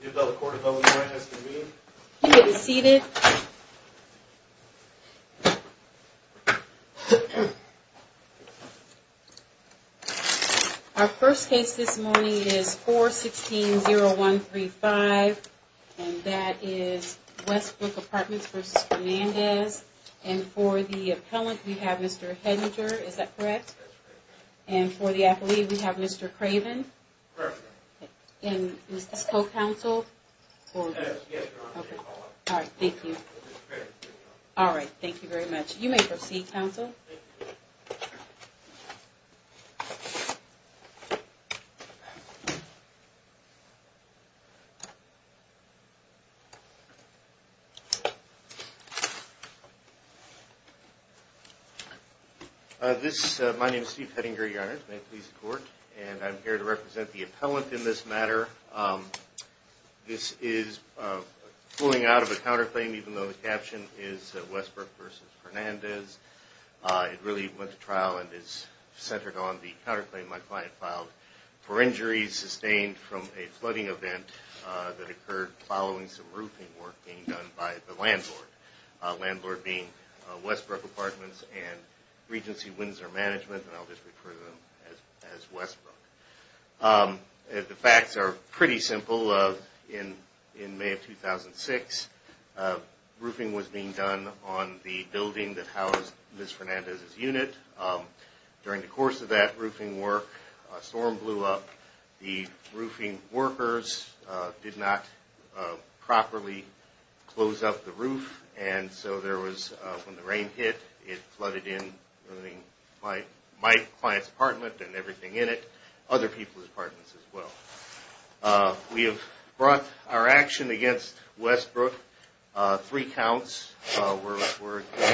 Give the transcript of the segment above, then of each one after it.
The appellate court of Illinois has convened. You may be seated. Our first case this morning is 416-0135, and that is Westbrook Apartments v. Fernandez. And for the appellant, we have Mr. Hedinger. Is that correct? That's correct. And for the athlete, we have Mr. Craven. Correct. And is this co-counsel? Yes, Your Honor. All right, thank you. All right, thank you very much. You may proceed, counsel. Thank you. My name is Steve Hedinger, Your Honor. It's my pleas to court. And I'm here to represent the appellant in this matter. This is pulling out of a counterclaim, even though the caption is Westbrook v. Fernandez. It really went to trial and is centered on the counterclaim my client filed for injuries sustained from a flooding event that occurred following some roofing work being done by the landlord, landlord being Westbrook Apartments and Regency Windsor Management, and I'll just refer to them as Westbrook. The facts are pretty simple. In May of 2006, roofing was being done on the building that housed Ms. Fernandez's unit. During the course of that roofing work, a storm blew up. The roofing workers did not properly close up the roof, and so there was, when the rain hit, it flooded in my client's apartment and everything in it, other people's apartments as well. We have brought our action against Westbrook. Three counts were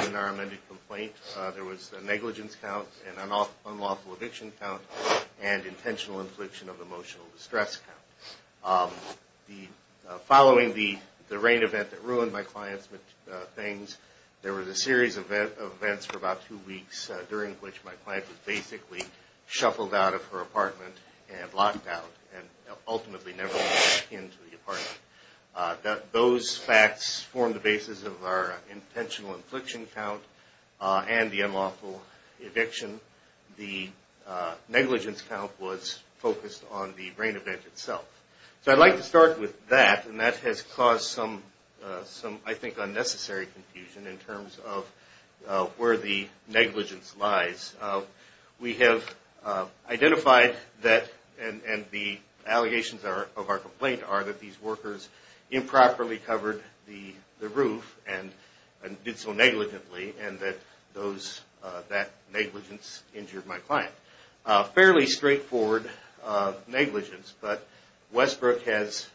in our amended complaint. There was a negligence count, an unlawful eviction count, and intentional infliction of emotional distress count. Following the rain event that ruined my client's things, there was a series of events for about two weeks during which my client was basically shuffled out of her apartment and locked out and ultimately never went back into the apartment. Those facts form the basis of our intentional infliction count and the unlawful eviction. The negligence count was focused on the rain event itself. So I'd like to start with that, and that has caused some, I think, unnecessary confusion in terms of where the negligence lies. We have identified that, and the allegations of our complaint are that these workers improperly covered the roof and did so negligently, and that negligence injured my client. Fairly straightforward negligence, but Westbrook has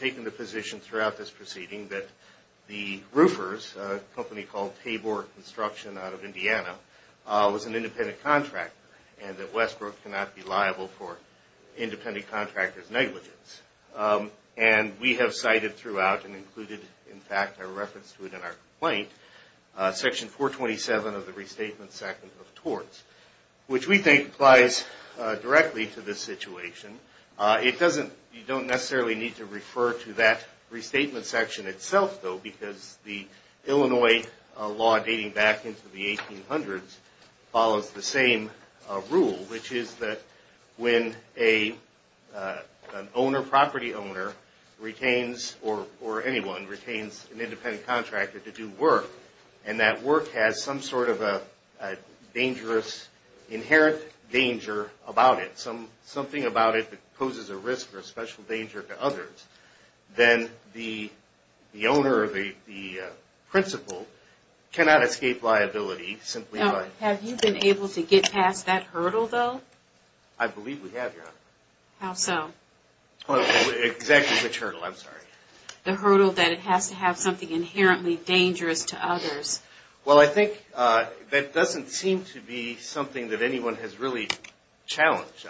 taken the position throughout this proceeding that the roofers, a company called Tabor Construction out of Indiana, was an independent contractor and that Westbrook cannot be liable for independent contractors' negligence. And we have cited throughout and included, in fact, a reference to it in our complaint, Section 427 of the Restatement Section of Torts, which we think applies directly to this situation. You don't necessarily need to refer to that Restatement Section itself, though, because the Illinois law dating back into the 1800s follows the same rule, which is that when an owner, property owner, retains or anyone retains an independent contractor to do work and that work has some sort of a dangerous, inherent danger about it, something about it that poses a risk or a special danger to others, then the owner or the principal cannot escape liability simply by... Have you been able to get past that hurdle, though? I believe we have, Your Honor. How so? Exactly which hurdle? I'm sorry. The hurdle that it has to have something inherently dangerous to others. Well, I think that doesn't seem to be something that anyone has really challenged.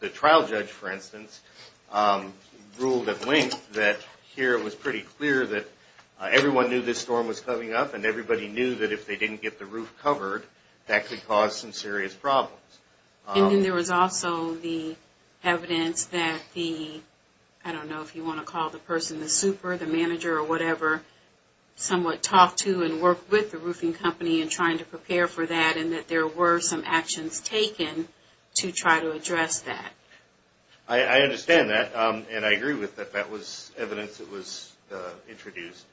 The trial judge, for instance, ruled at length that here it was pretty clear that everyone knew this storm was coming up and everybody knew that if they didn't get the roof covered, that could cause some serious problems. And then there was also the evidence that the... I don't know if you want to call the person the super, the manager or whatever, somewhat talked to and worked with the roofing company in trying to prepare for that and that there were some actions taken to try to address that. I understand that, and I agree with that. That was evidence that was introduced.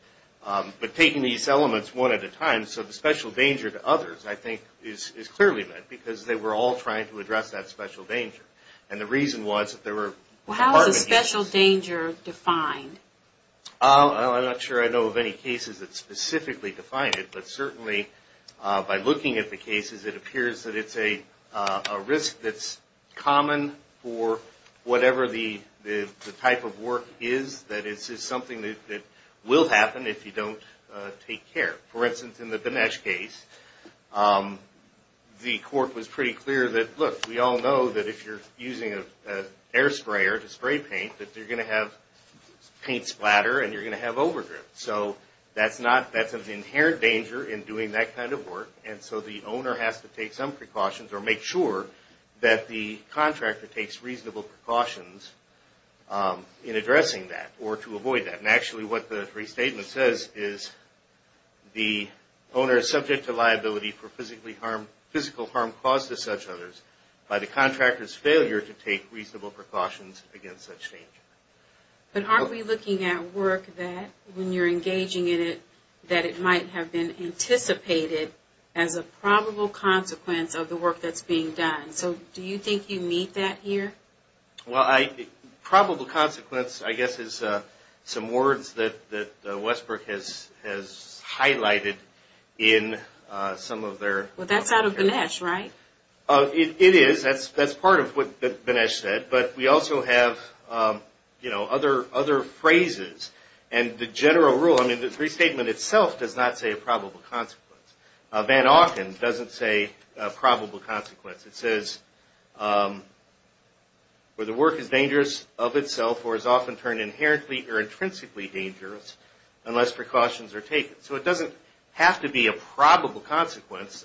But taking these elements one at a time, so the special danger to others, I think, is clearly met because they were all trying to address that special danger. And the reason was that there were... How is a special danger defined? I'm not sure I know of any cases that specifically define it, but certainly by looking at the cases, it appears that it's a risk that's common for whatever the type of work is, that it's just something that will happen if you don't take care. For instance, in the Dinesh case, the court was pretty clear that, look, we all know that if you're using an air sprayer to spray paint, that you're going to have paint splatter and you're going to have overgrip. So that's an inherent danger in doing that kind of work. And so the owner has to take some precautions or make sure that the contractor takes reasonable precautions in addressing that or to avoid that. And actually what the restatement says is the owner is subject to liability for physical harm caused to such others by the contractor's failure to take reasonable precautions against such danger. But aren't we looking at work that, when you're engaging in it, that it might have been anticipated as a probable consequence of the work that's being done? So do you think you meet that here? Well, probable consequence, I guess, is some words that Westbrook has highlighted in some of their- Well, that's out of Dinesh, right? It is. That's part of what Dinesh said. But we also have other phrases. And the general rule, I mean, the restatement itself does not say a probable consequence. Van Auken doesn't say a probable consequence. It says where the work is dangerous of itself or is often turned inherently or intrinsically dangerous unless precautions are taken. So it doesn't have to be a probable consequence,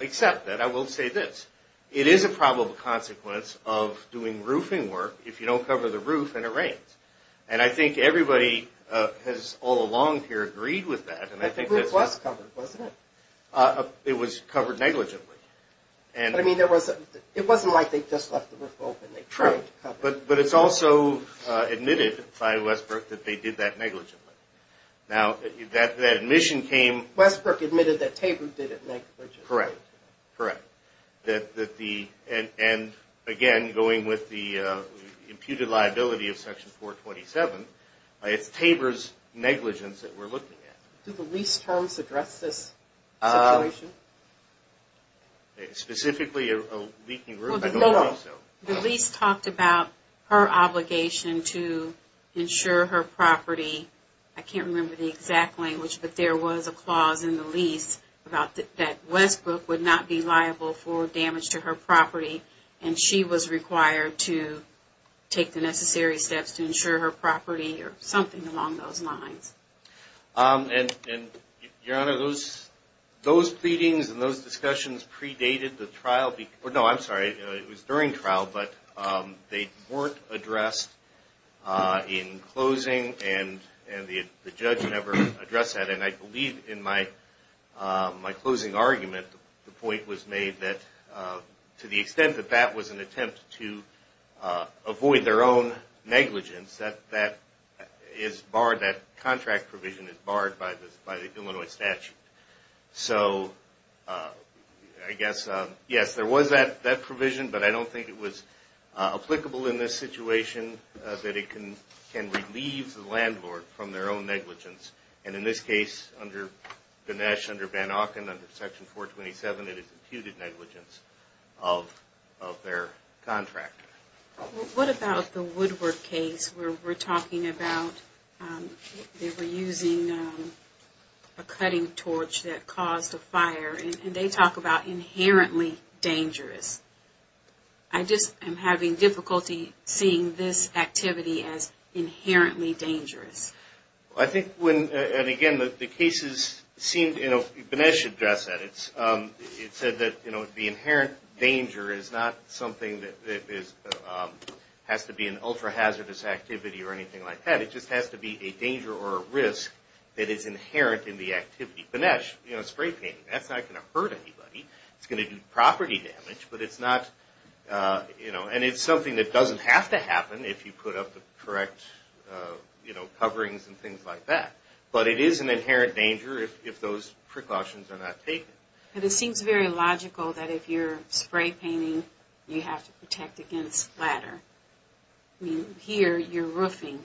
except that I will say this. It is a probable consequence of doing roofing work if you don't cover the roof and it rains. And I think everybody has all along here agreed with that. The roof was covered, wasn't it? It was covered negligently. But, I mean, it wasn't like they just left the roof open. They tried to cover it. But it's also admitted by Westbrook that they did that negligently. Now, that admission came- Westbrook admitted that Tabor did it negligently. Correct. Correct. And, again, going with the imputed liability of Section 427, it's Tabor's negligence that we're looking at. Do the lease terms address this situation? Specifically a leaking roof? No. The lease talked about her obligation to insure her property. I can't remember the exact language, but there was a clause in the lease that Westbrook would not be liable for damage to her property. And she was required to take the necessary steps to insure her property or something along those lines. Your Honor, those pleadings and those discussions predated the trial. No, I'm sorry. It was during trial, but they weren't addressed in closing, and the judge never addressed that. And I believe in my closing argument, the point was made that to the extent that that was an attempt to avoid their own negligence, that contract provision is barred by the Illinois statute. So, I guess, yes, there was that provision, but I don't think it was applicable in this situation, that it can relieve the landlord from their own negligence. And in this case, under Ganesh, under Van Auken, under Section 427, it is imputed negligence of their contract. What about the Woodward case where we're talking about they were using a cutting torch that caused a fire, and they talk about inherently dangerous. I just am having difficulty seeing this activity as inherently dangerous. I think when, and again, the cases seemed, you know, Ganesh addressed that. It said that, you know, the inherent danger is not something that has to be an ultra-hazardous activity or anything like that. It just has to be a danger or a risk that is inherent in the activity. Ganesh, you know, spray painting, that's not going to hurt anybody. It's going to do property damage, but it's not, you know, and it's something that doesn't have to happen if you put up the correct, you know, coverings and things like that. But it is an inherent danger if those precautions are not taken. But it seems very logical that if you're spray painting, you have to protect against water. I mean, here you're roofing,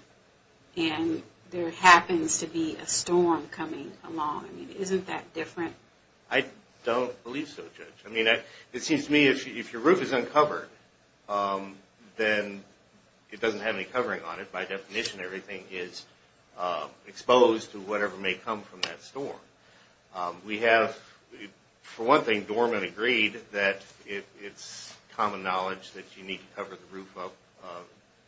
and there happens to be a storm coming along. I mean, isn't that different? I don't believe so, Judge. I mean, it seems to me if your roof is uncovered, then it doesn't have any covering on it. By definition, everything is exposed to whatever may come from that storm. We have, for one thing, Dorman agreed that it's common knowledge that you need to cover the roof up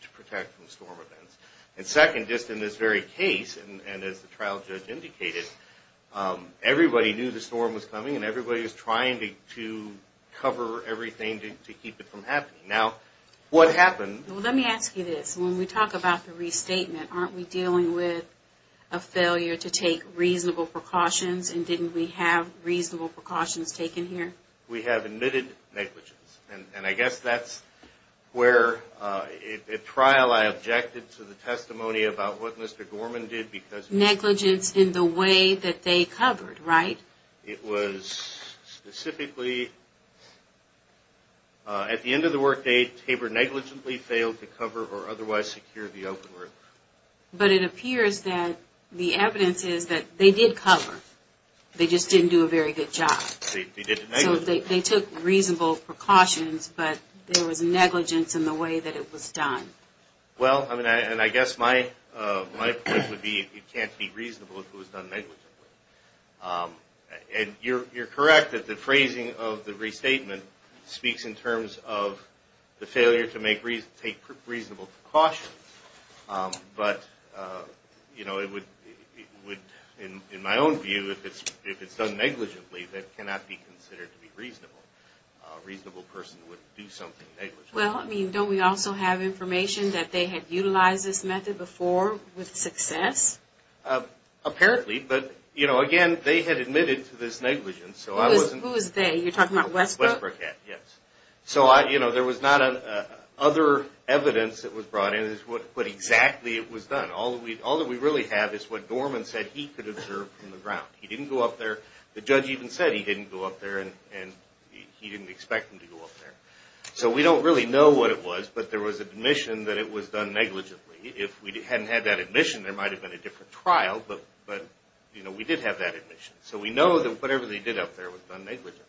to protect from storm events. And second, just in this very case, and as the trial judge indicated, everybody knew the storm was coming, and everybody was trying to cover everything to keep it from happening. Now, what happened... Aren't we dealing with a failure to take reasonable precautions, and didn't we have reasonable precautions taken here? We have admitted negligence. And I guess that's where, at trial, I objected to the testimony about what Mr. Dorman did because... Negligence in the way that they covered, right? It was specifically... At the end of the workday, Tabor negligently failed to cover or otherwise secure the open roof. But it appears that the evidence is that they did cover. They just didn't do a very good job. They did negligently. So they took reasonable precautions, but there was negligence in the way that it was done. Well, I mean, and I guess my point would be it can't be reasonable if it was done negligently. And you're correct that the phrasing of the restatement speaks in terms of the failure to take reasonable precautions. But, you know, it would, in my own view, if it's done negligently, that cannot be considered to be reasonable. A reasonable person would do something negligently. Well, I mean, don't we also have information that they had utilized this method before with success? Apparently. But, you know, again, they had admitted to this negligence, so I wasn't... Who was they? You're talking about Westbrook? Westbrook, yes. So, you know, there was not other evidence that was brought in as to what exactly it was done. All that we really have is what Dorman said he could observe from the ground. He didn't go up there. The judge even said he didn't go up there, and he didn't expect him to go up there. So we don't really know what it was, but there was admission that it was done negligently. If we hadn't had that admission, there might have been a different trial, but, you know, we did have that admission. So we know that whatever they did up there was done negligently.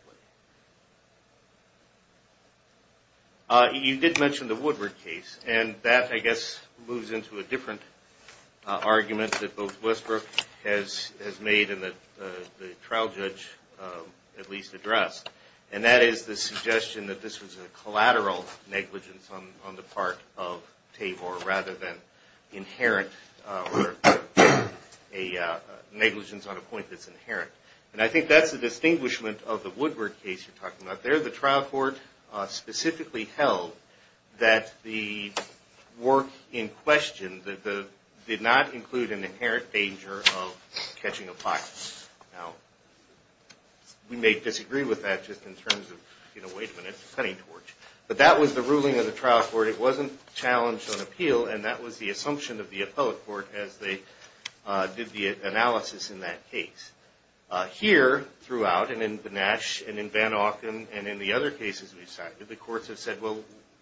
You did mention the Woodward case, and that, I guess, moves into a different argument that both Westbrook has made and that the trial judge at least addressed, and that is the suggestion that this was a collateral negligence on the part of Tabor rather than inherent or a negligence on a point that's inherent. And I think that's the distinguishment of the Woodward case you're talking about. There the trial court specifically held that the work in question did not include an inherent danger of catching a pirate. Now, we may disagree with that just in terms of, you know, wait a minute, it's a cutting torch. But that was the ruling of the trial court. It wasn't challenged on appeal, and that was the assumption of the appellate court as they did the analysis in that case. Here throughout, and in Benesh, and in Van Auken, and in the other cases we've cited, the courts have said, well,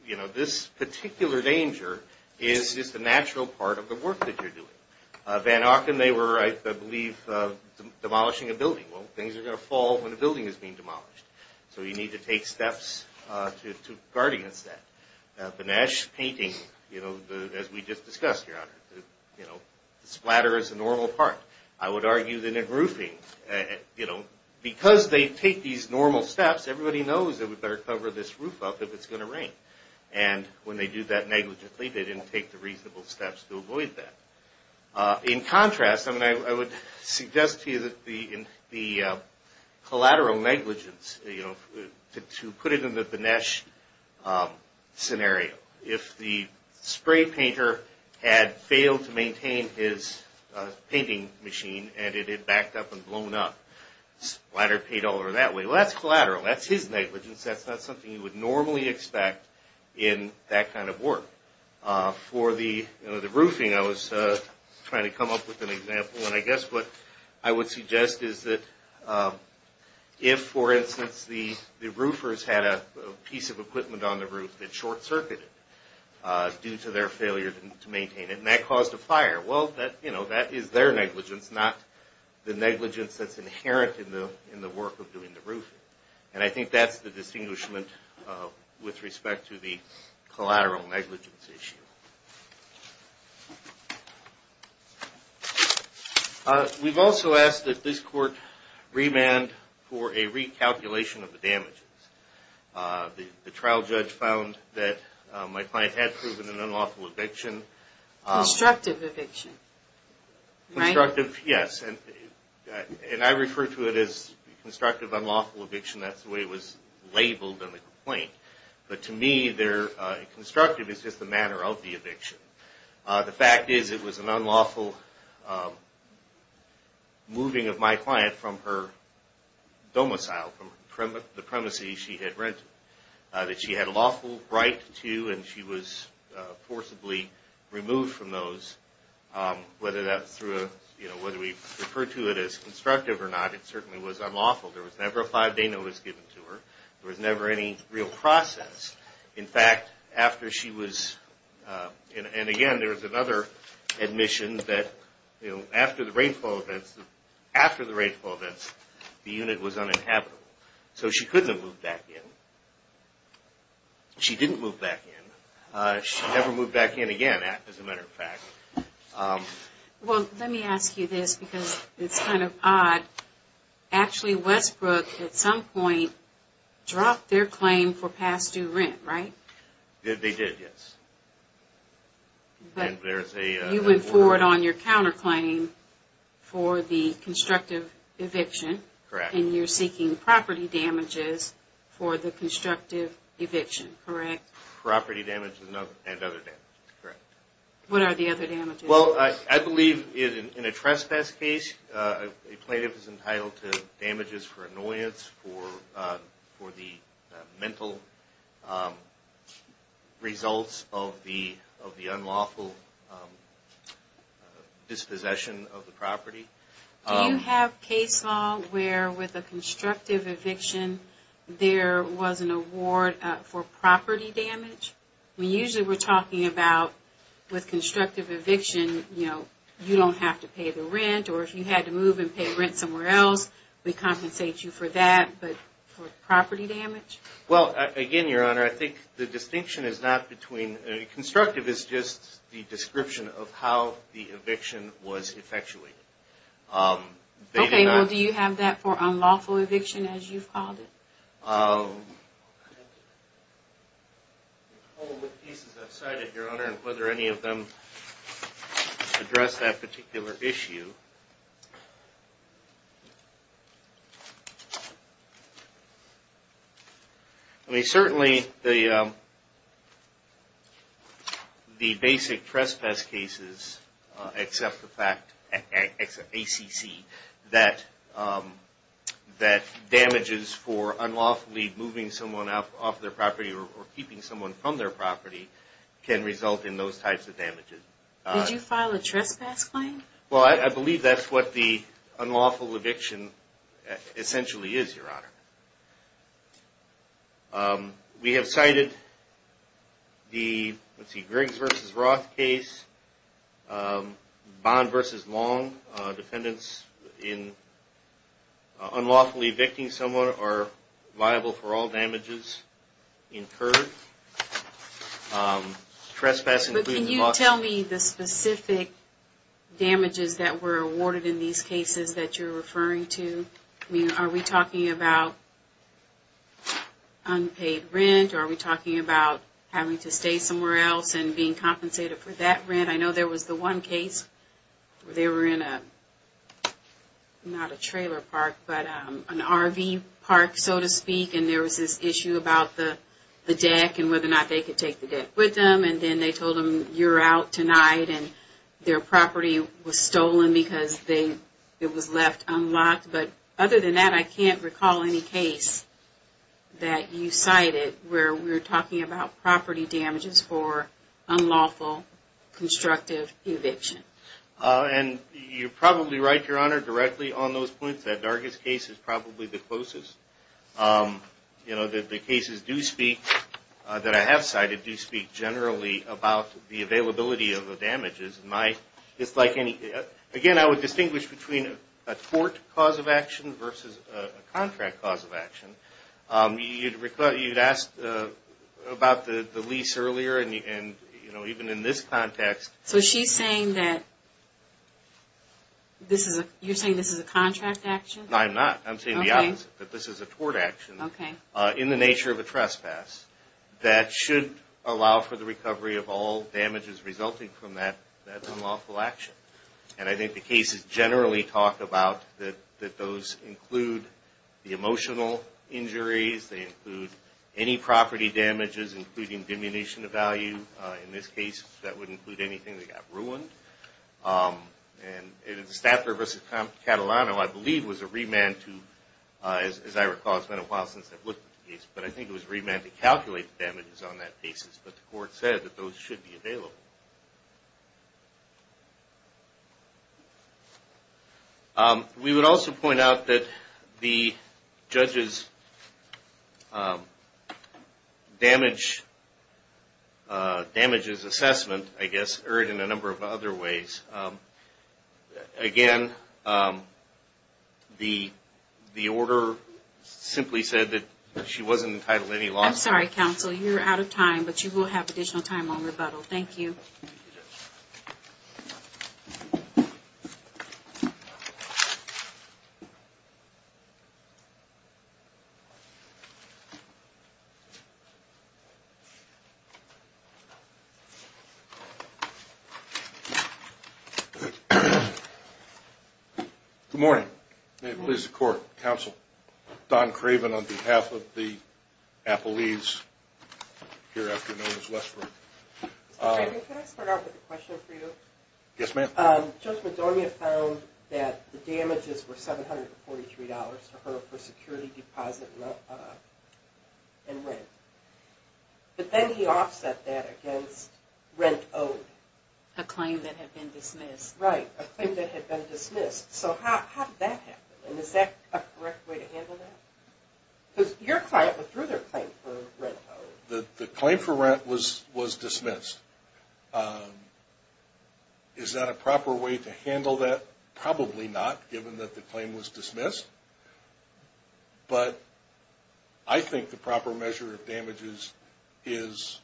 you know, this particular danger is just a natural part of the work that you're doing. Van Auken, they were, I believe, demolishing a building. Well, things are going to fall when a building is being demolished, so you need to take steps to guard against that. Benesh painting, you know, as we just discussed, Your Honor, you know, the splatter is a normal part. I would argue that in roofing, you know, because they take these normal steps, everybody knows they would better cover this roof up if it's going to rain. And when they do that negligently, they didn't take the reasonable steps to avoid that. In contrast, I mean, I would suggest to you that the collateral negligence, you know, to put it in the Benesh scenario, if the spray painter had failed to maintain his painting machine and it had backed up and blown up, splatter paid all over that way. Well, that's collateral. That's his negligence. That's not something you would normally expect in that kind of work. For the roofing, I was trying to come up with an example, and I guess what I would suggest is that if, for instance, the roofers had a piece of equipment on the roof that short-circuited due to their failure to maintain it, and that caused a fire, well, you know, that is their negligence, not the negligence that's inherent in the work of doing the roofing. And I think that's the distinguishment with respect to the collateral negligence issue. We've also asked that this court remand for a recalculation of the damages. The trial judge found that my client had proven an unlawful eviction. Constructive eviction, right? Constructive, yes, and I refer to it as constructive unlawful eviction. That's the way it was labeled in the complaint. But to me, constructive is just the manner of the eviction. The fact is it was an unlawful moving of my client from her domicile, from the premises she had rented that she had a lawful right to, and she was forcibly removed from those. Whether we refer to it as constructive or not, it certainly was unlawful. There was never a five-day notice given to her. There was never any real process. In fact, after she was, and again, there was another admission that after the rainfall events, after the rainfall events, the unit was uninhabitable. So she couldn't have moved back in. She didn't move back in. She never moved back in again, as a matter of fact. Actually, Westbrook at some point dropped their claim for past-due rent, right? They did, yes. You went forward on your counterclaim for the constructive eviction. Correct. And you're seeking property damages for the constructive eviction, correct? Property damage and other damages, correct. What are the other damages? Well, I believe in a trespass case, a plaintiff is entitled to damages for annoyance, for the mental results of the unlawful dispossession of the property. Do you have case law where, with a constructive eviction, there was an award for property damage? We usually were talking about, with constructive eviction, you know, you don't have to pay the rent, or if you had to move and pay the rent somewhere else, we compensate you for that, but for property damage? Well, again, Your Honor, I think the distinction is not between, constructive is just the description of how the eviction was effectuated. Okay, well, do you have that for unlawful eviction, as you've called it? I have to recall what cases I've cited, Your Honor, and whether any of them address that particular issue. Certainly, the basic trespass cases, except the fact, ACC, that damages for unlawfully moving someone off their property or keeping someone from their property can result in those types of damages. Did you file a trespass claim? Well, I believe that's what the unlawful eviction essentially is, Your Honor. We have cited the Griggs v. Roth case, Bond v. Long, defendants in unlawfully evicting someone are liable for all damages incurred. Can you tell me the specific damages that were awarded in these cases that you're referring to? I mean, are we talking about unpaid rent? Are we talking about having to stay somewhere else and being compensated for that rent? I know there was the one case where they were in a, not a trailer park, but an RV park, so to speak, and there was this issue about the deck and whether or not they could take the deck with them, and then they told them, you're out tonight, and their property was stolen because it was left unlocked. But other than that, I can't recall any case that you cited where we're talking about property damages for unlawful constructive eviction. And you're probably right, Your Honor, directly on those points. That Dargis case is probably the closest. You know, the cases do speak, that I have cited, do speak generally about the availability of the damages. It's like any, again, I would distinguish between a tort cause of action versus a contract cause of action. You'd ask about the lease earlier, and, you know, even in this context. So she's saying that this is a, you're saying this is a contract action? No, I'm not. I'm saying the opposite, that this is a tort action in the nature of a trespass that should allow for the recovery of all damages resulting from that unlawful action. And I think the cases generally talk about that those include the emotional injuries, they include any property damages, including diminution of value. In this case, that would include anything that got ruined. And the Stafford v. Catalano, I believe, was a remand to, as I recall, it's been a while since I've looked at the case, but I think it was a remand to calculate the damages on that basis. But the court said that those should be available. We would also point out that the judge's damages assessment, I guess, erred in a number of other ways. Again, the order simply said that she wasn't entitled to any loss. I'm sorry, counsel, you're out of time, but you will have additional time on rebuttal. Thank you. Thank you, Judge. Good morning. May it please the court, counsel. Don Craven on behalf of the Appellees here afternoon as well. Mr. Craven, can I start off with a question for you? Yes, ma'am. Judge Madonia found that the damages were $743 to her for security deposit and rent. But then he offset that against rent owed. A claim that had been dismissed. Right, a claim that had been dismissed. So how did that happen, and is that a correct way to handle that? Because your client withdrew their claim for rent owed. The claim for rent was dismissed. Is that a proper way to handle that? Probably not, given that the claim was dismissed. But I think the proper measure of damages is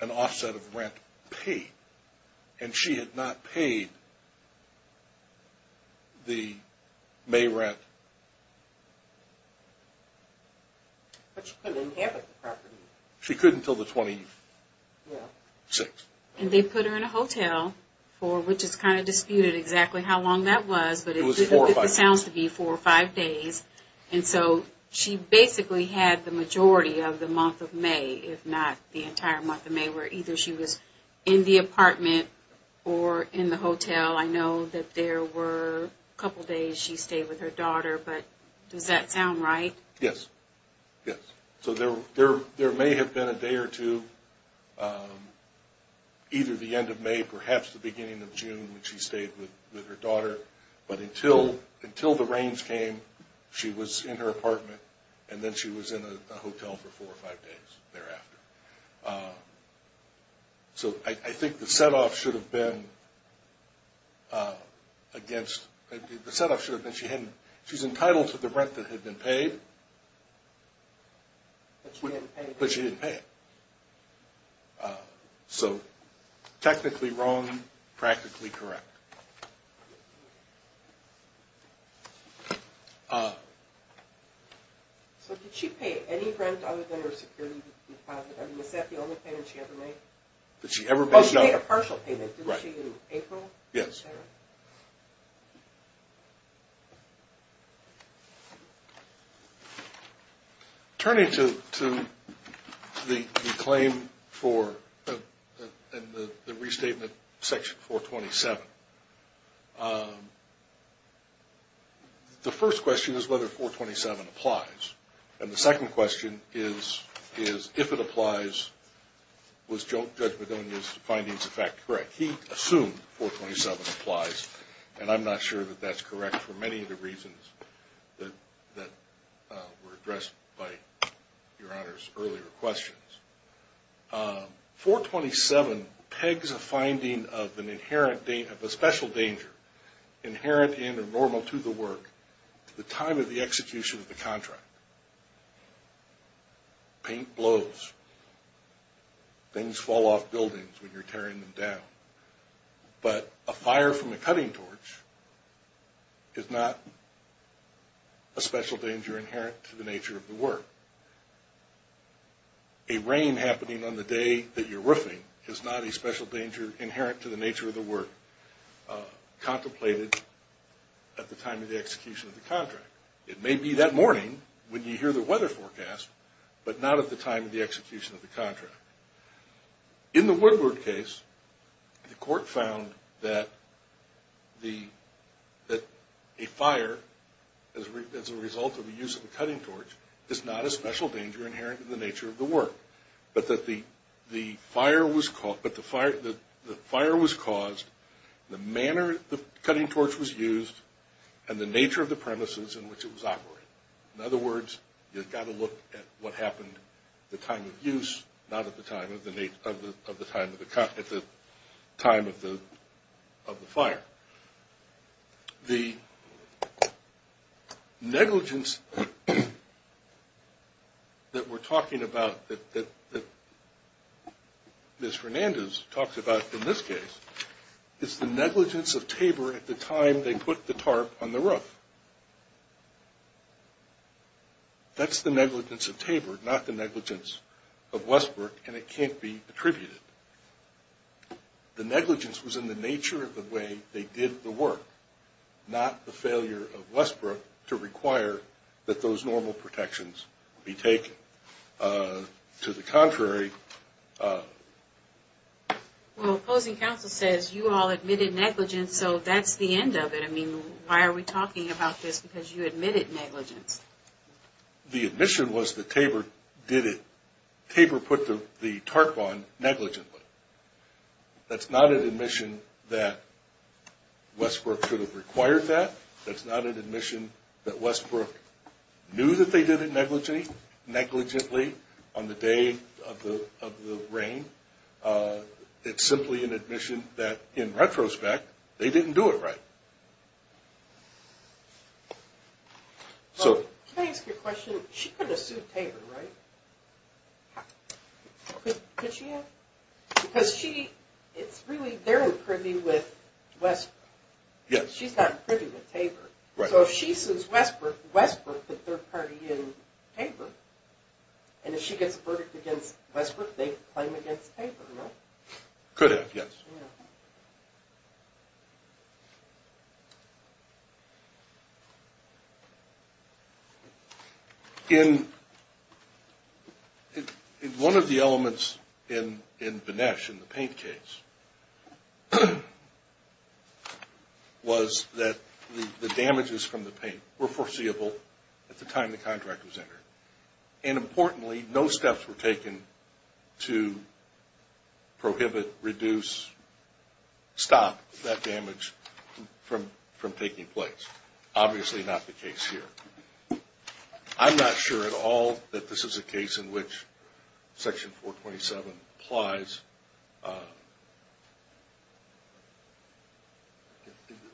an offset of rent paid. And she had not paid the May rent. But she couldn't inhabit the property. She couldn't until the 26th. And they put her in a hotel for, which is kind of disputed exactly how long that was, but it sounds to be four or five days. And so she basically had the majority of the month of May, if not the entire month of May, where either she was in the apartment or in the hotel. I know that there were a couple days she stayed with her daughter, but does that sound right? Yes, yes. So there may have been a day or two, either the end of May, perhaps the beginning of June, when she stayed with her daughter. But until the rains came, she was in her apartment, and then she was in a hotel for four or five days thereafter. So I think the set-off should have been she's entitled to the rent that had been paid, but she didn't pay it. So technically wrong, practically correct. So did she pay any rent other than her security deposit? I mean, is that the only payment she ever made? Oh, she paid a partial payment, didn't she, in April? Yes. Thank you. Turning to the claim for the restatement, Section 427, the first question is whether 427 applies. And the second question is, if it applies, was Judge Madonia's findings, in fact, correct? He assumed 427 applies, and I'm not sure that that's correct for many of the reasons that were addressed by Your Honor's earlier questions. 427 pegs a finding of a special danger inherent in or normal to the work to the time of the execution of the contract. Paint blows. Things fall off buildings when you're tearing them down. But a fire from a cutting torch is not a special danger inherent to the nature of the work. A rain happening on the day that you're roofing is not a special danger inherent to the nature of the work contemplated at the time of the execution of the contract. It may be that morning when you hear the weather forecast, but not at the time of the execution of the contract. In the Woodward case, the court found that a fire as a result of the use of a cutting torch is not a special danger inherent to the nature of the work, but that the fire was caused, the manner the cutting torch was used, and the nature of the premises in which it was operated. In other words, you've got to look at what happened at the time of use, not at the time of the fire. The negligence that we're talking about, that Ms. Hernandez talks about in this case, is the negligence of Tabor at the time they put the tarp on the roof. That's the negligence of Tabor, not the negligence of Westbrook, and it can't be attributed. The negligence was in the nature of the way they did the work, not the failure of Westbrook to require that those normal protections be taken. To the contrary... Well, opposing counsel says you all admitted negligence, so that's the end of it. I mean, why are we talking about this? Because you admitted negligence. The admission was that Tabor put the tarp on negligently. That's not an admission that Westbrook should have required that. That's not an admission that Westbrook knew that they did it negligently on the day of the rain. It's simply an admission that, in retrospect, they didn't do it right. Can I ask you a question? She couldn't have sued Tabor, right? Could she have? Because they're in privy with Westbrook. She's not in privy with Tabor. So if she sues Westbrook, Westbrook could third-party in Tabor. And if she gets a verdict against Westbrook, they claim against Tabor, right? Could have, yes. In one of the elements in Vinesh, in the paint case, was that the damages from the paint were foreseeable at the time the contract was entered. And importantly, no steps were taken to prohibit, reduce, stop that damage from taking place. Obviously not the case here. I'm not sure at all that this is a case in which Section 427 applies.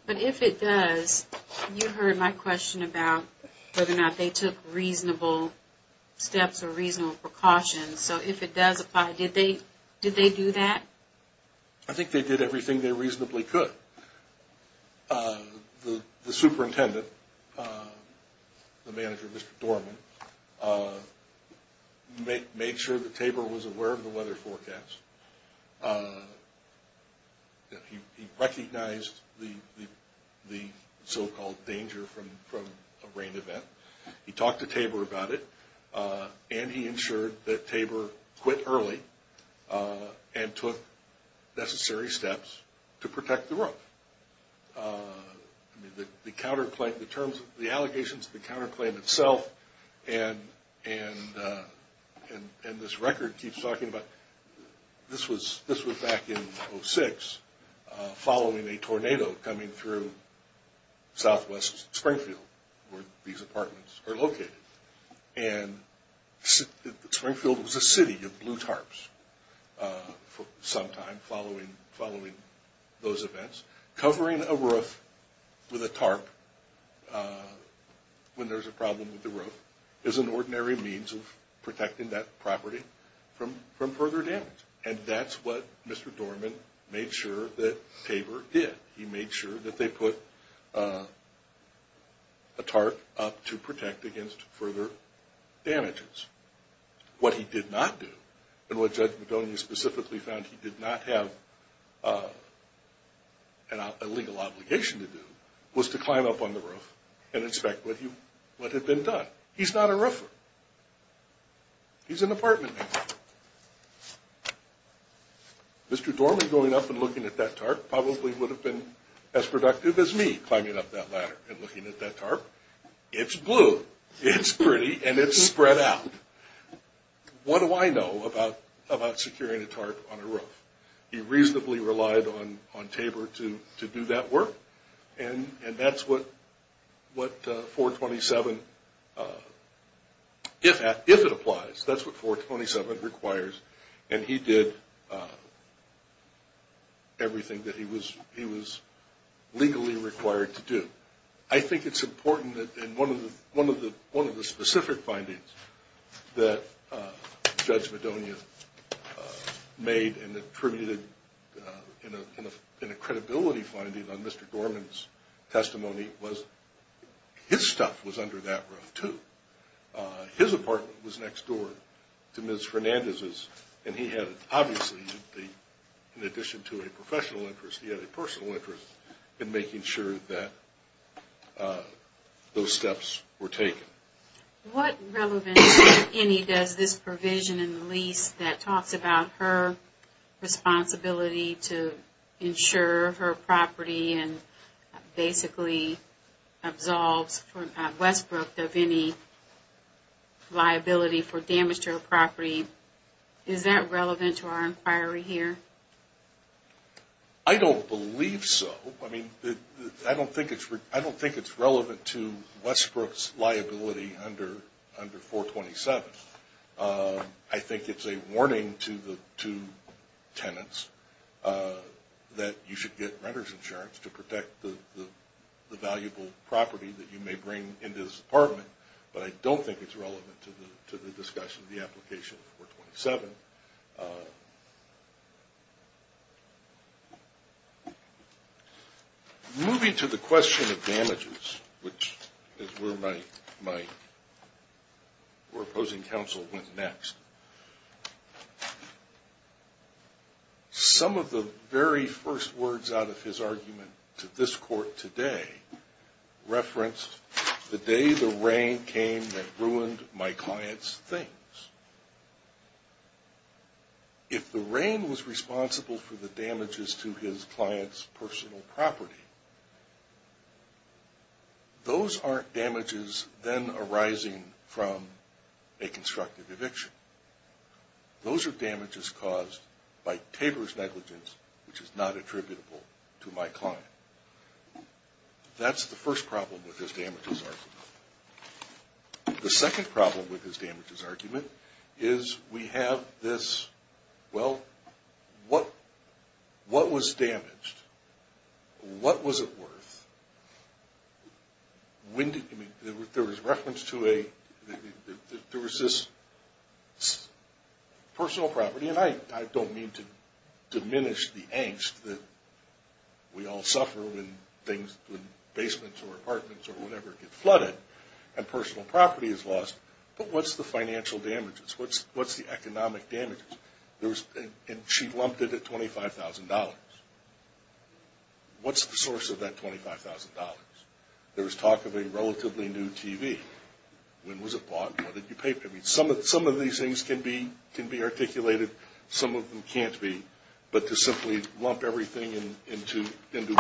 But if it does, you heard my question about whether or not they took reasonable steps or reasonable precautions. So if it does apply, did they do that? I think they did everything they reasonably could. The superintendent, the manager, Mr. Dorman, made sure that Tabor was aware of the weather forecast. He recognized the so-called danger from a rain event. He talked to Tabor about it. And he ensured that Tabor quit early and took necessary steps to protect the road. The allegations of the counterclaim itself, and this record keeps talking about, this was back in 06, following a tornado coming through southwest Springfield, where these apartments are located. And Springfield was a city of blue tarps for some time following those events. Covering a roof with a tarp when there's a problem with the roof is an ordinary means of protecting that property from further damage. And that's what Mr. Dorman made sure that Tabor did. He made sure that they put a tarp up to protect against further damages. What he did not do, and what Judge Madonia specifically found he did not have a legal obligation to do, was to climb up on the roof and inspect what had been done. He's not a roofer. He's an apartment manager. Mr. Dorman going up and looking at that tarp probably would have been as productive as me climbing up that ladder and looking at that tarp. It's blue, it's pretty, and it's spread out. What do I know about securing a tarp on a roof? He reasonably relied on Tabor to do that work. And that's what 427, if it applies, that's what 427 requires. And he did everything that he was legally required to do. I think it's important that one of the specific findings that Judge Madonia made and attributed in a credibility finding on Mr. Dorman's testimony was his stuff was under that roof too. His apartment was next door to Ms. Fernandez's, and he had obviously, in addition to a professional interest, he had a personal interest in making sure that those steps were taken. What relevance, if any, does this provision in the lease that talks about her responsibility to ensure her property and basically absolves Westbrook of any liability for damage to her property, is that relevant to our inquiry here? I don't believe so. I mean, I don't think it's relevant to Westbrook's liability under 427. I think it's a warning to tenants that you should get renter's insurance to protect the valuable property that you may bring into this apartment. But I don't think it's relevant to the discussion of the application of 427. Moving to the question of damages, which is where my opposing counsel went next. Some of the very first words out of his argument to this court today referenced the day the rain came that ruined my client's things. If the rain was responsible for the damages to his client's personal property, those aren't damages then arising from a constructive eviction. Those are damages caused by Tabor's negligence, which is not attributable to my client. That's the first problem with his damages argument. The second problem with his damages argument is we have this, well, what was damaged? What was it worth? There was reference to a, there was this personal property, and I don't mean to diminish the angst that we all suffer when things, when basements or apartments or whatever get flooded and personal property is lost. But what's the financial damages? What's the economic damages? And she lumped it at $25,000. What's the source of that $25,000? There was talk of a relatively new TV. When was it bought and what did you pay for it? Some of these things can be articulated. Some of them can't be. But to simply lump everything into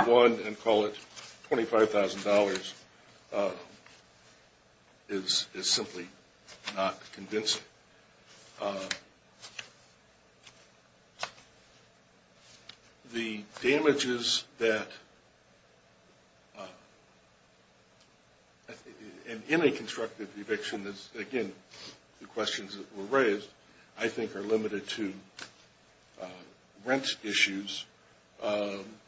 one and call it $25,000 is simply not convincing. The damages that, in a constructive eviction, again, the questions that were raised, I think are limited to rent issues,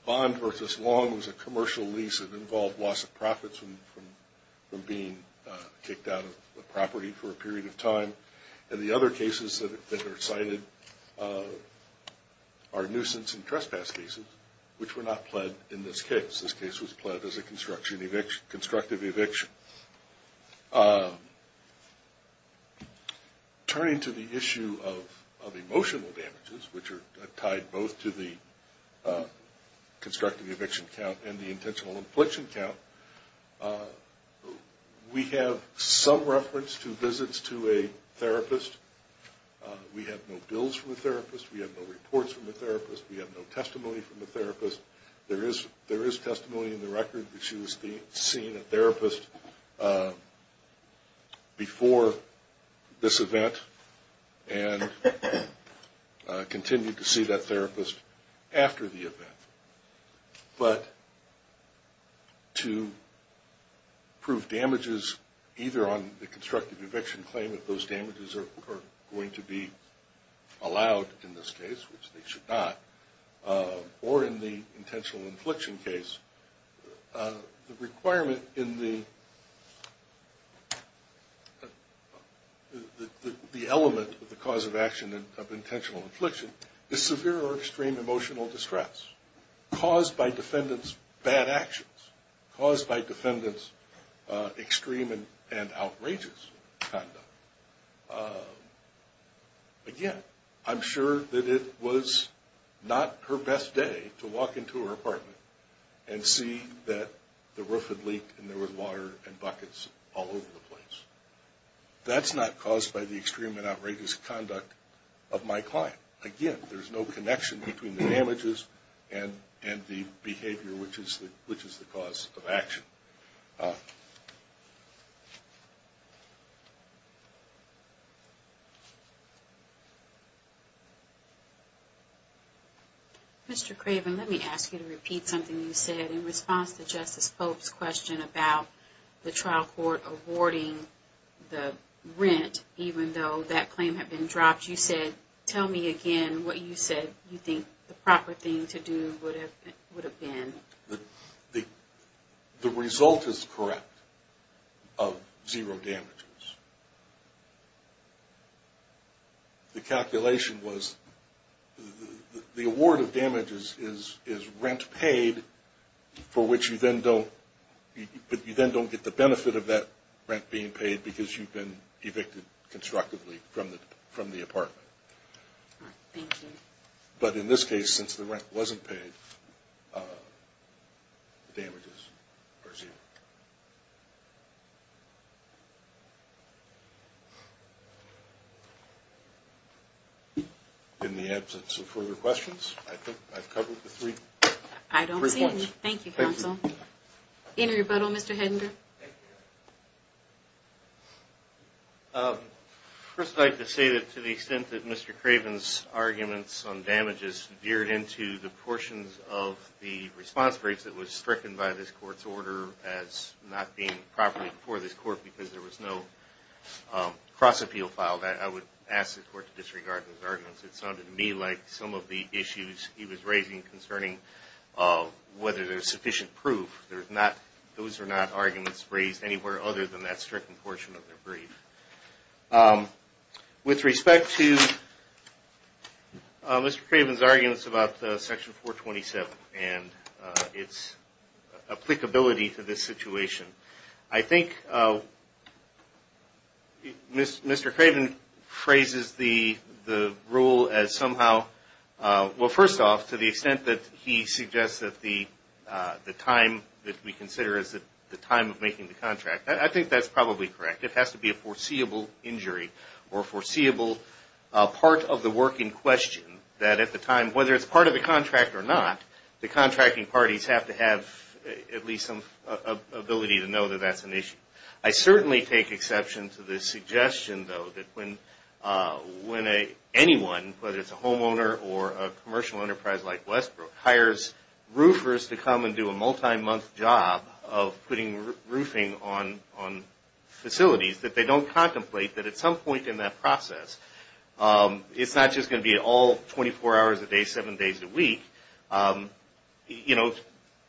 bond versus long as a commercial lease that involved loss of profits from being kicked out of the property for a period of time. And the other cases that are cited are nuisance and trespass cases, which were not pled in this case. This case was pled as a constructive eviction. Turning to the issue of emotional damages, which are tied both to the constructive eviction count and the intentional infliction count, we have some reference to visits to a therapist. We have no bills from a therapist. We have no reports from a therapist. We have no testimony from a therapist. There is testimony in the record that she was seeing a therapist before this event and continued to see that therapist after the event. But to prove damages either on the constructive eviction claim, if those damages are going to be allowed in this case, which they should not, or in the intentional infliction case, the requirement in the element of the cause of action of intentional infliction is severe or extreme emotional distress caused by defendant's bad actions, caused by defendant's extreme and outrageous conduct. Again, I'm sure that it was not her best day to walk into her apartment and see that the roof had leaked and there were water and buckets all over the place. That's not caused by the extreme and outrageous conduct of my client. Again, there's no connection between the damages and the behavior, which is the cause of action. Mr. Craven, let me ask you to repeat something you said in response to Justice Pope's question about the trial court awarding the rent, even though that claim had been dropped. You said, tell me again what you said you think the proper thing to do would have been. The result is correct of zero damages. The calculation was the award of damages is rent paid for which you then don't get the benefit of that rent being paid because you've been evicted constructively from the apartment. Thank you. But in this case, since the rent wasn't paid, the damages are zero. In the absence of further questions, I think I've covered the three points. I don't see any. Thank you, counsel. Any rebuttal, Mr. Hedinder? First, I'd like to say that to the extent that Mr. Craven's arguments on damages veered into the portions of the response briefs that was stricken by this court's order as not being properly before this court because there was no cross-appeal filed, I would ask the court to disregard those arguments. It sounded to me like some of the issues he was raising concerning whether there's sufficient proof, those are not arguments raised anywhere other than that stricken portion of the brief. With respect to Mr. Craven's arguments about Section 427 and its applicability to this situation, I think Mr. Craven phrases the rule as somehow – that we consider as the time of making the contract. I think that's probably correct. It has to be a foreseeable injury or foreseeable part of the work in question that at the time, whether it's part of the contract or not, the contracting parties have to have at least some ability to know that that's an issue. I certainly take exception to the suggestion, though, that when anyone, whether it's a homeowner or a commercial enterprise like Westbrook, hires roofers to come and do a multi-month job of putting roofing on facilities that they don't contemplate that at some point in that process, it's not just going to be all 24 hours a day, seven days a week.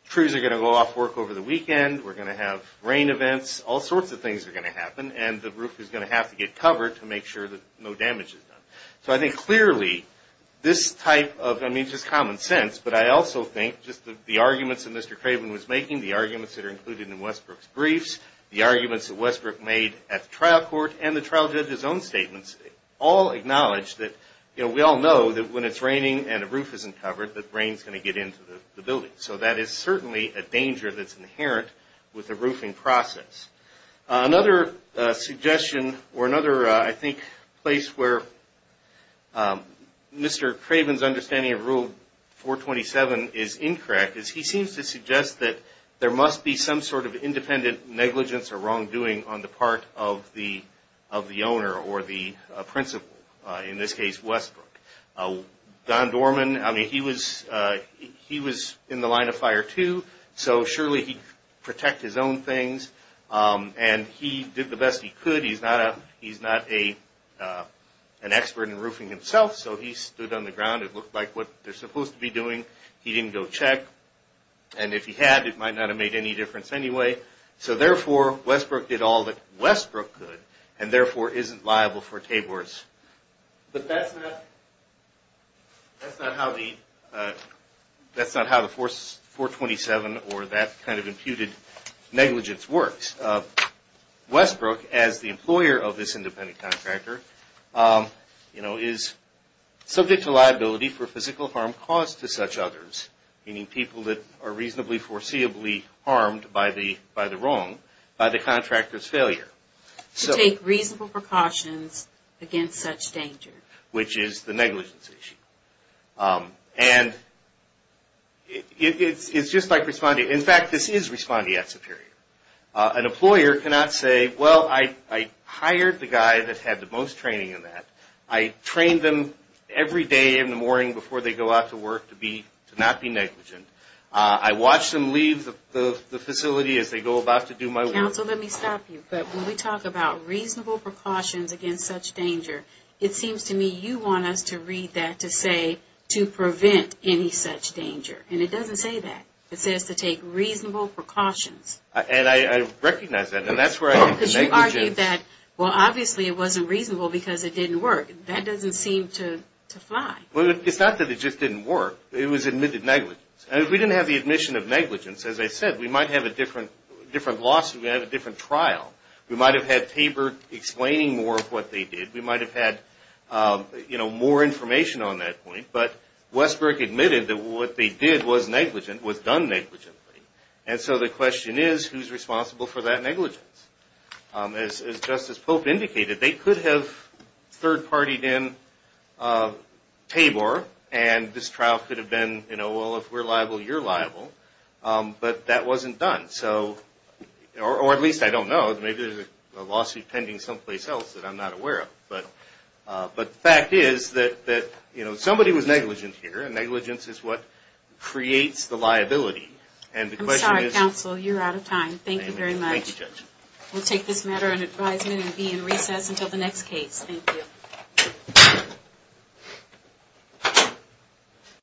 Trees are going to go off work over the weekend. We're going to have rain events. All sorts of things are going to happen, and the roof is going to have to get covered to make sure that no damage is done. So I think clearly this type of – I mean, just common sense, but I also think just the arguments that Mr. Craven was making, the arguments that are included in Westbrook's briefs, the arguments that Westbrook made at the trial court, and the trial judge's own statements all acknowledge that we all know that when it's raining and a roof isn't covered, that rain is going to get into the building. So that is certainly a danger that's inherent with the roofing process. Another suggestion or another, I think, place where Mr. Craven's understanding of Rule 427 is incorrect is he seems to suggest that there must be some sort of independent negligence or wrongdoing on the part of the owner or the principal, in this case Westbrook. Don Dorman, I mean, he was in the line of fire too, so surely he'd protect his own things. And he did the best he could. He's not an expert in roofing himself, so he stood on the ground. It looked like what they're supposed to be doing. He didn't go check. And if he had, it might not have made any difference anyway. So therefore, Westbrook did all that Westbrook could and therefore isn't liable for Tabor's. But that's not how the 427 or that kind of imputed negligence works. Westbrook, as the employer of this independent contractor, is subject to liability for physical harm caused to such others, meaning people that are reasonably foreseeably harmed by the wrong, by the contractor's failure. To take reasonable precautions against such danger. Which is the negligence issue. And it's just like responding. In fact, this is responding at Superior. An employer cannot say, well, I hired the guy that had the most training in that. I trained them every day in the morning before they go out to work to not be negligent. I watched them leave the facility as they go about to do my work. Counsel, let me stop you. But when we talk about reasonable precautions against such danger, it seems to me you want us to read that to say to prevent any such danger. And it doesn't say that. It says to take reasonable precautions. And I recognize that. And that's where I have the negligence. Because you argued that, well, obviously it wasn't reasonable because it didn't work. That doesn't seem to fly. Well, it's not that it just didn't work. It was admitted negligence. And if we didn't have the admission of negligence, as I said, we might have a different lawsuit. We might have a different trial. We might have had Tabor explaining more of what they did. We might have had more information on that point. But Westbrook admitted that what they did was done negligently. And so the question is, who's responsible for that negligence? As Justice Pope indicated, they could have third-partied in Tabor. And this trial could have been, well, if we're liable, you're liable. But that wasn't done. Or at least I don't know. Maybe there's a lawsuit pending someplace else that I'm not aware of. But the fact is that somebody was negligent here. And negligence is what creates the liability. I'm sorry, counsel. You're out of time. Thank you very much. Thank you, Judge. We'll take this matter under advisement and be in recess until the next case. Thank you. Thank you.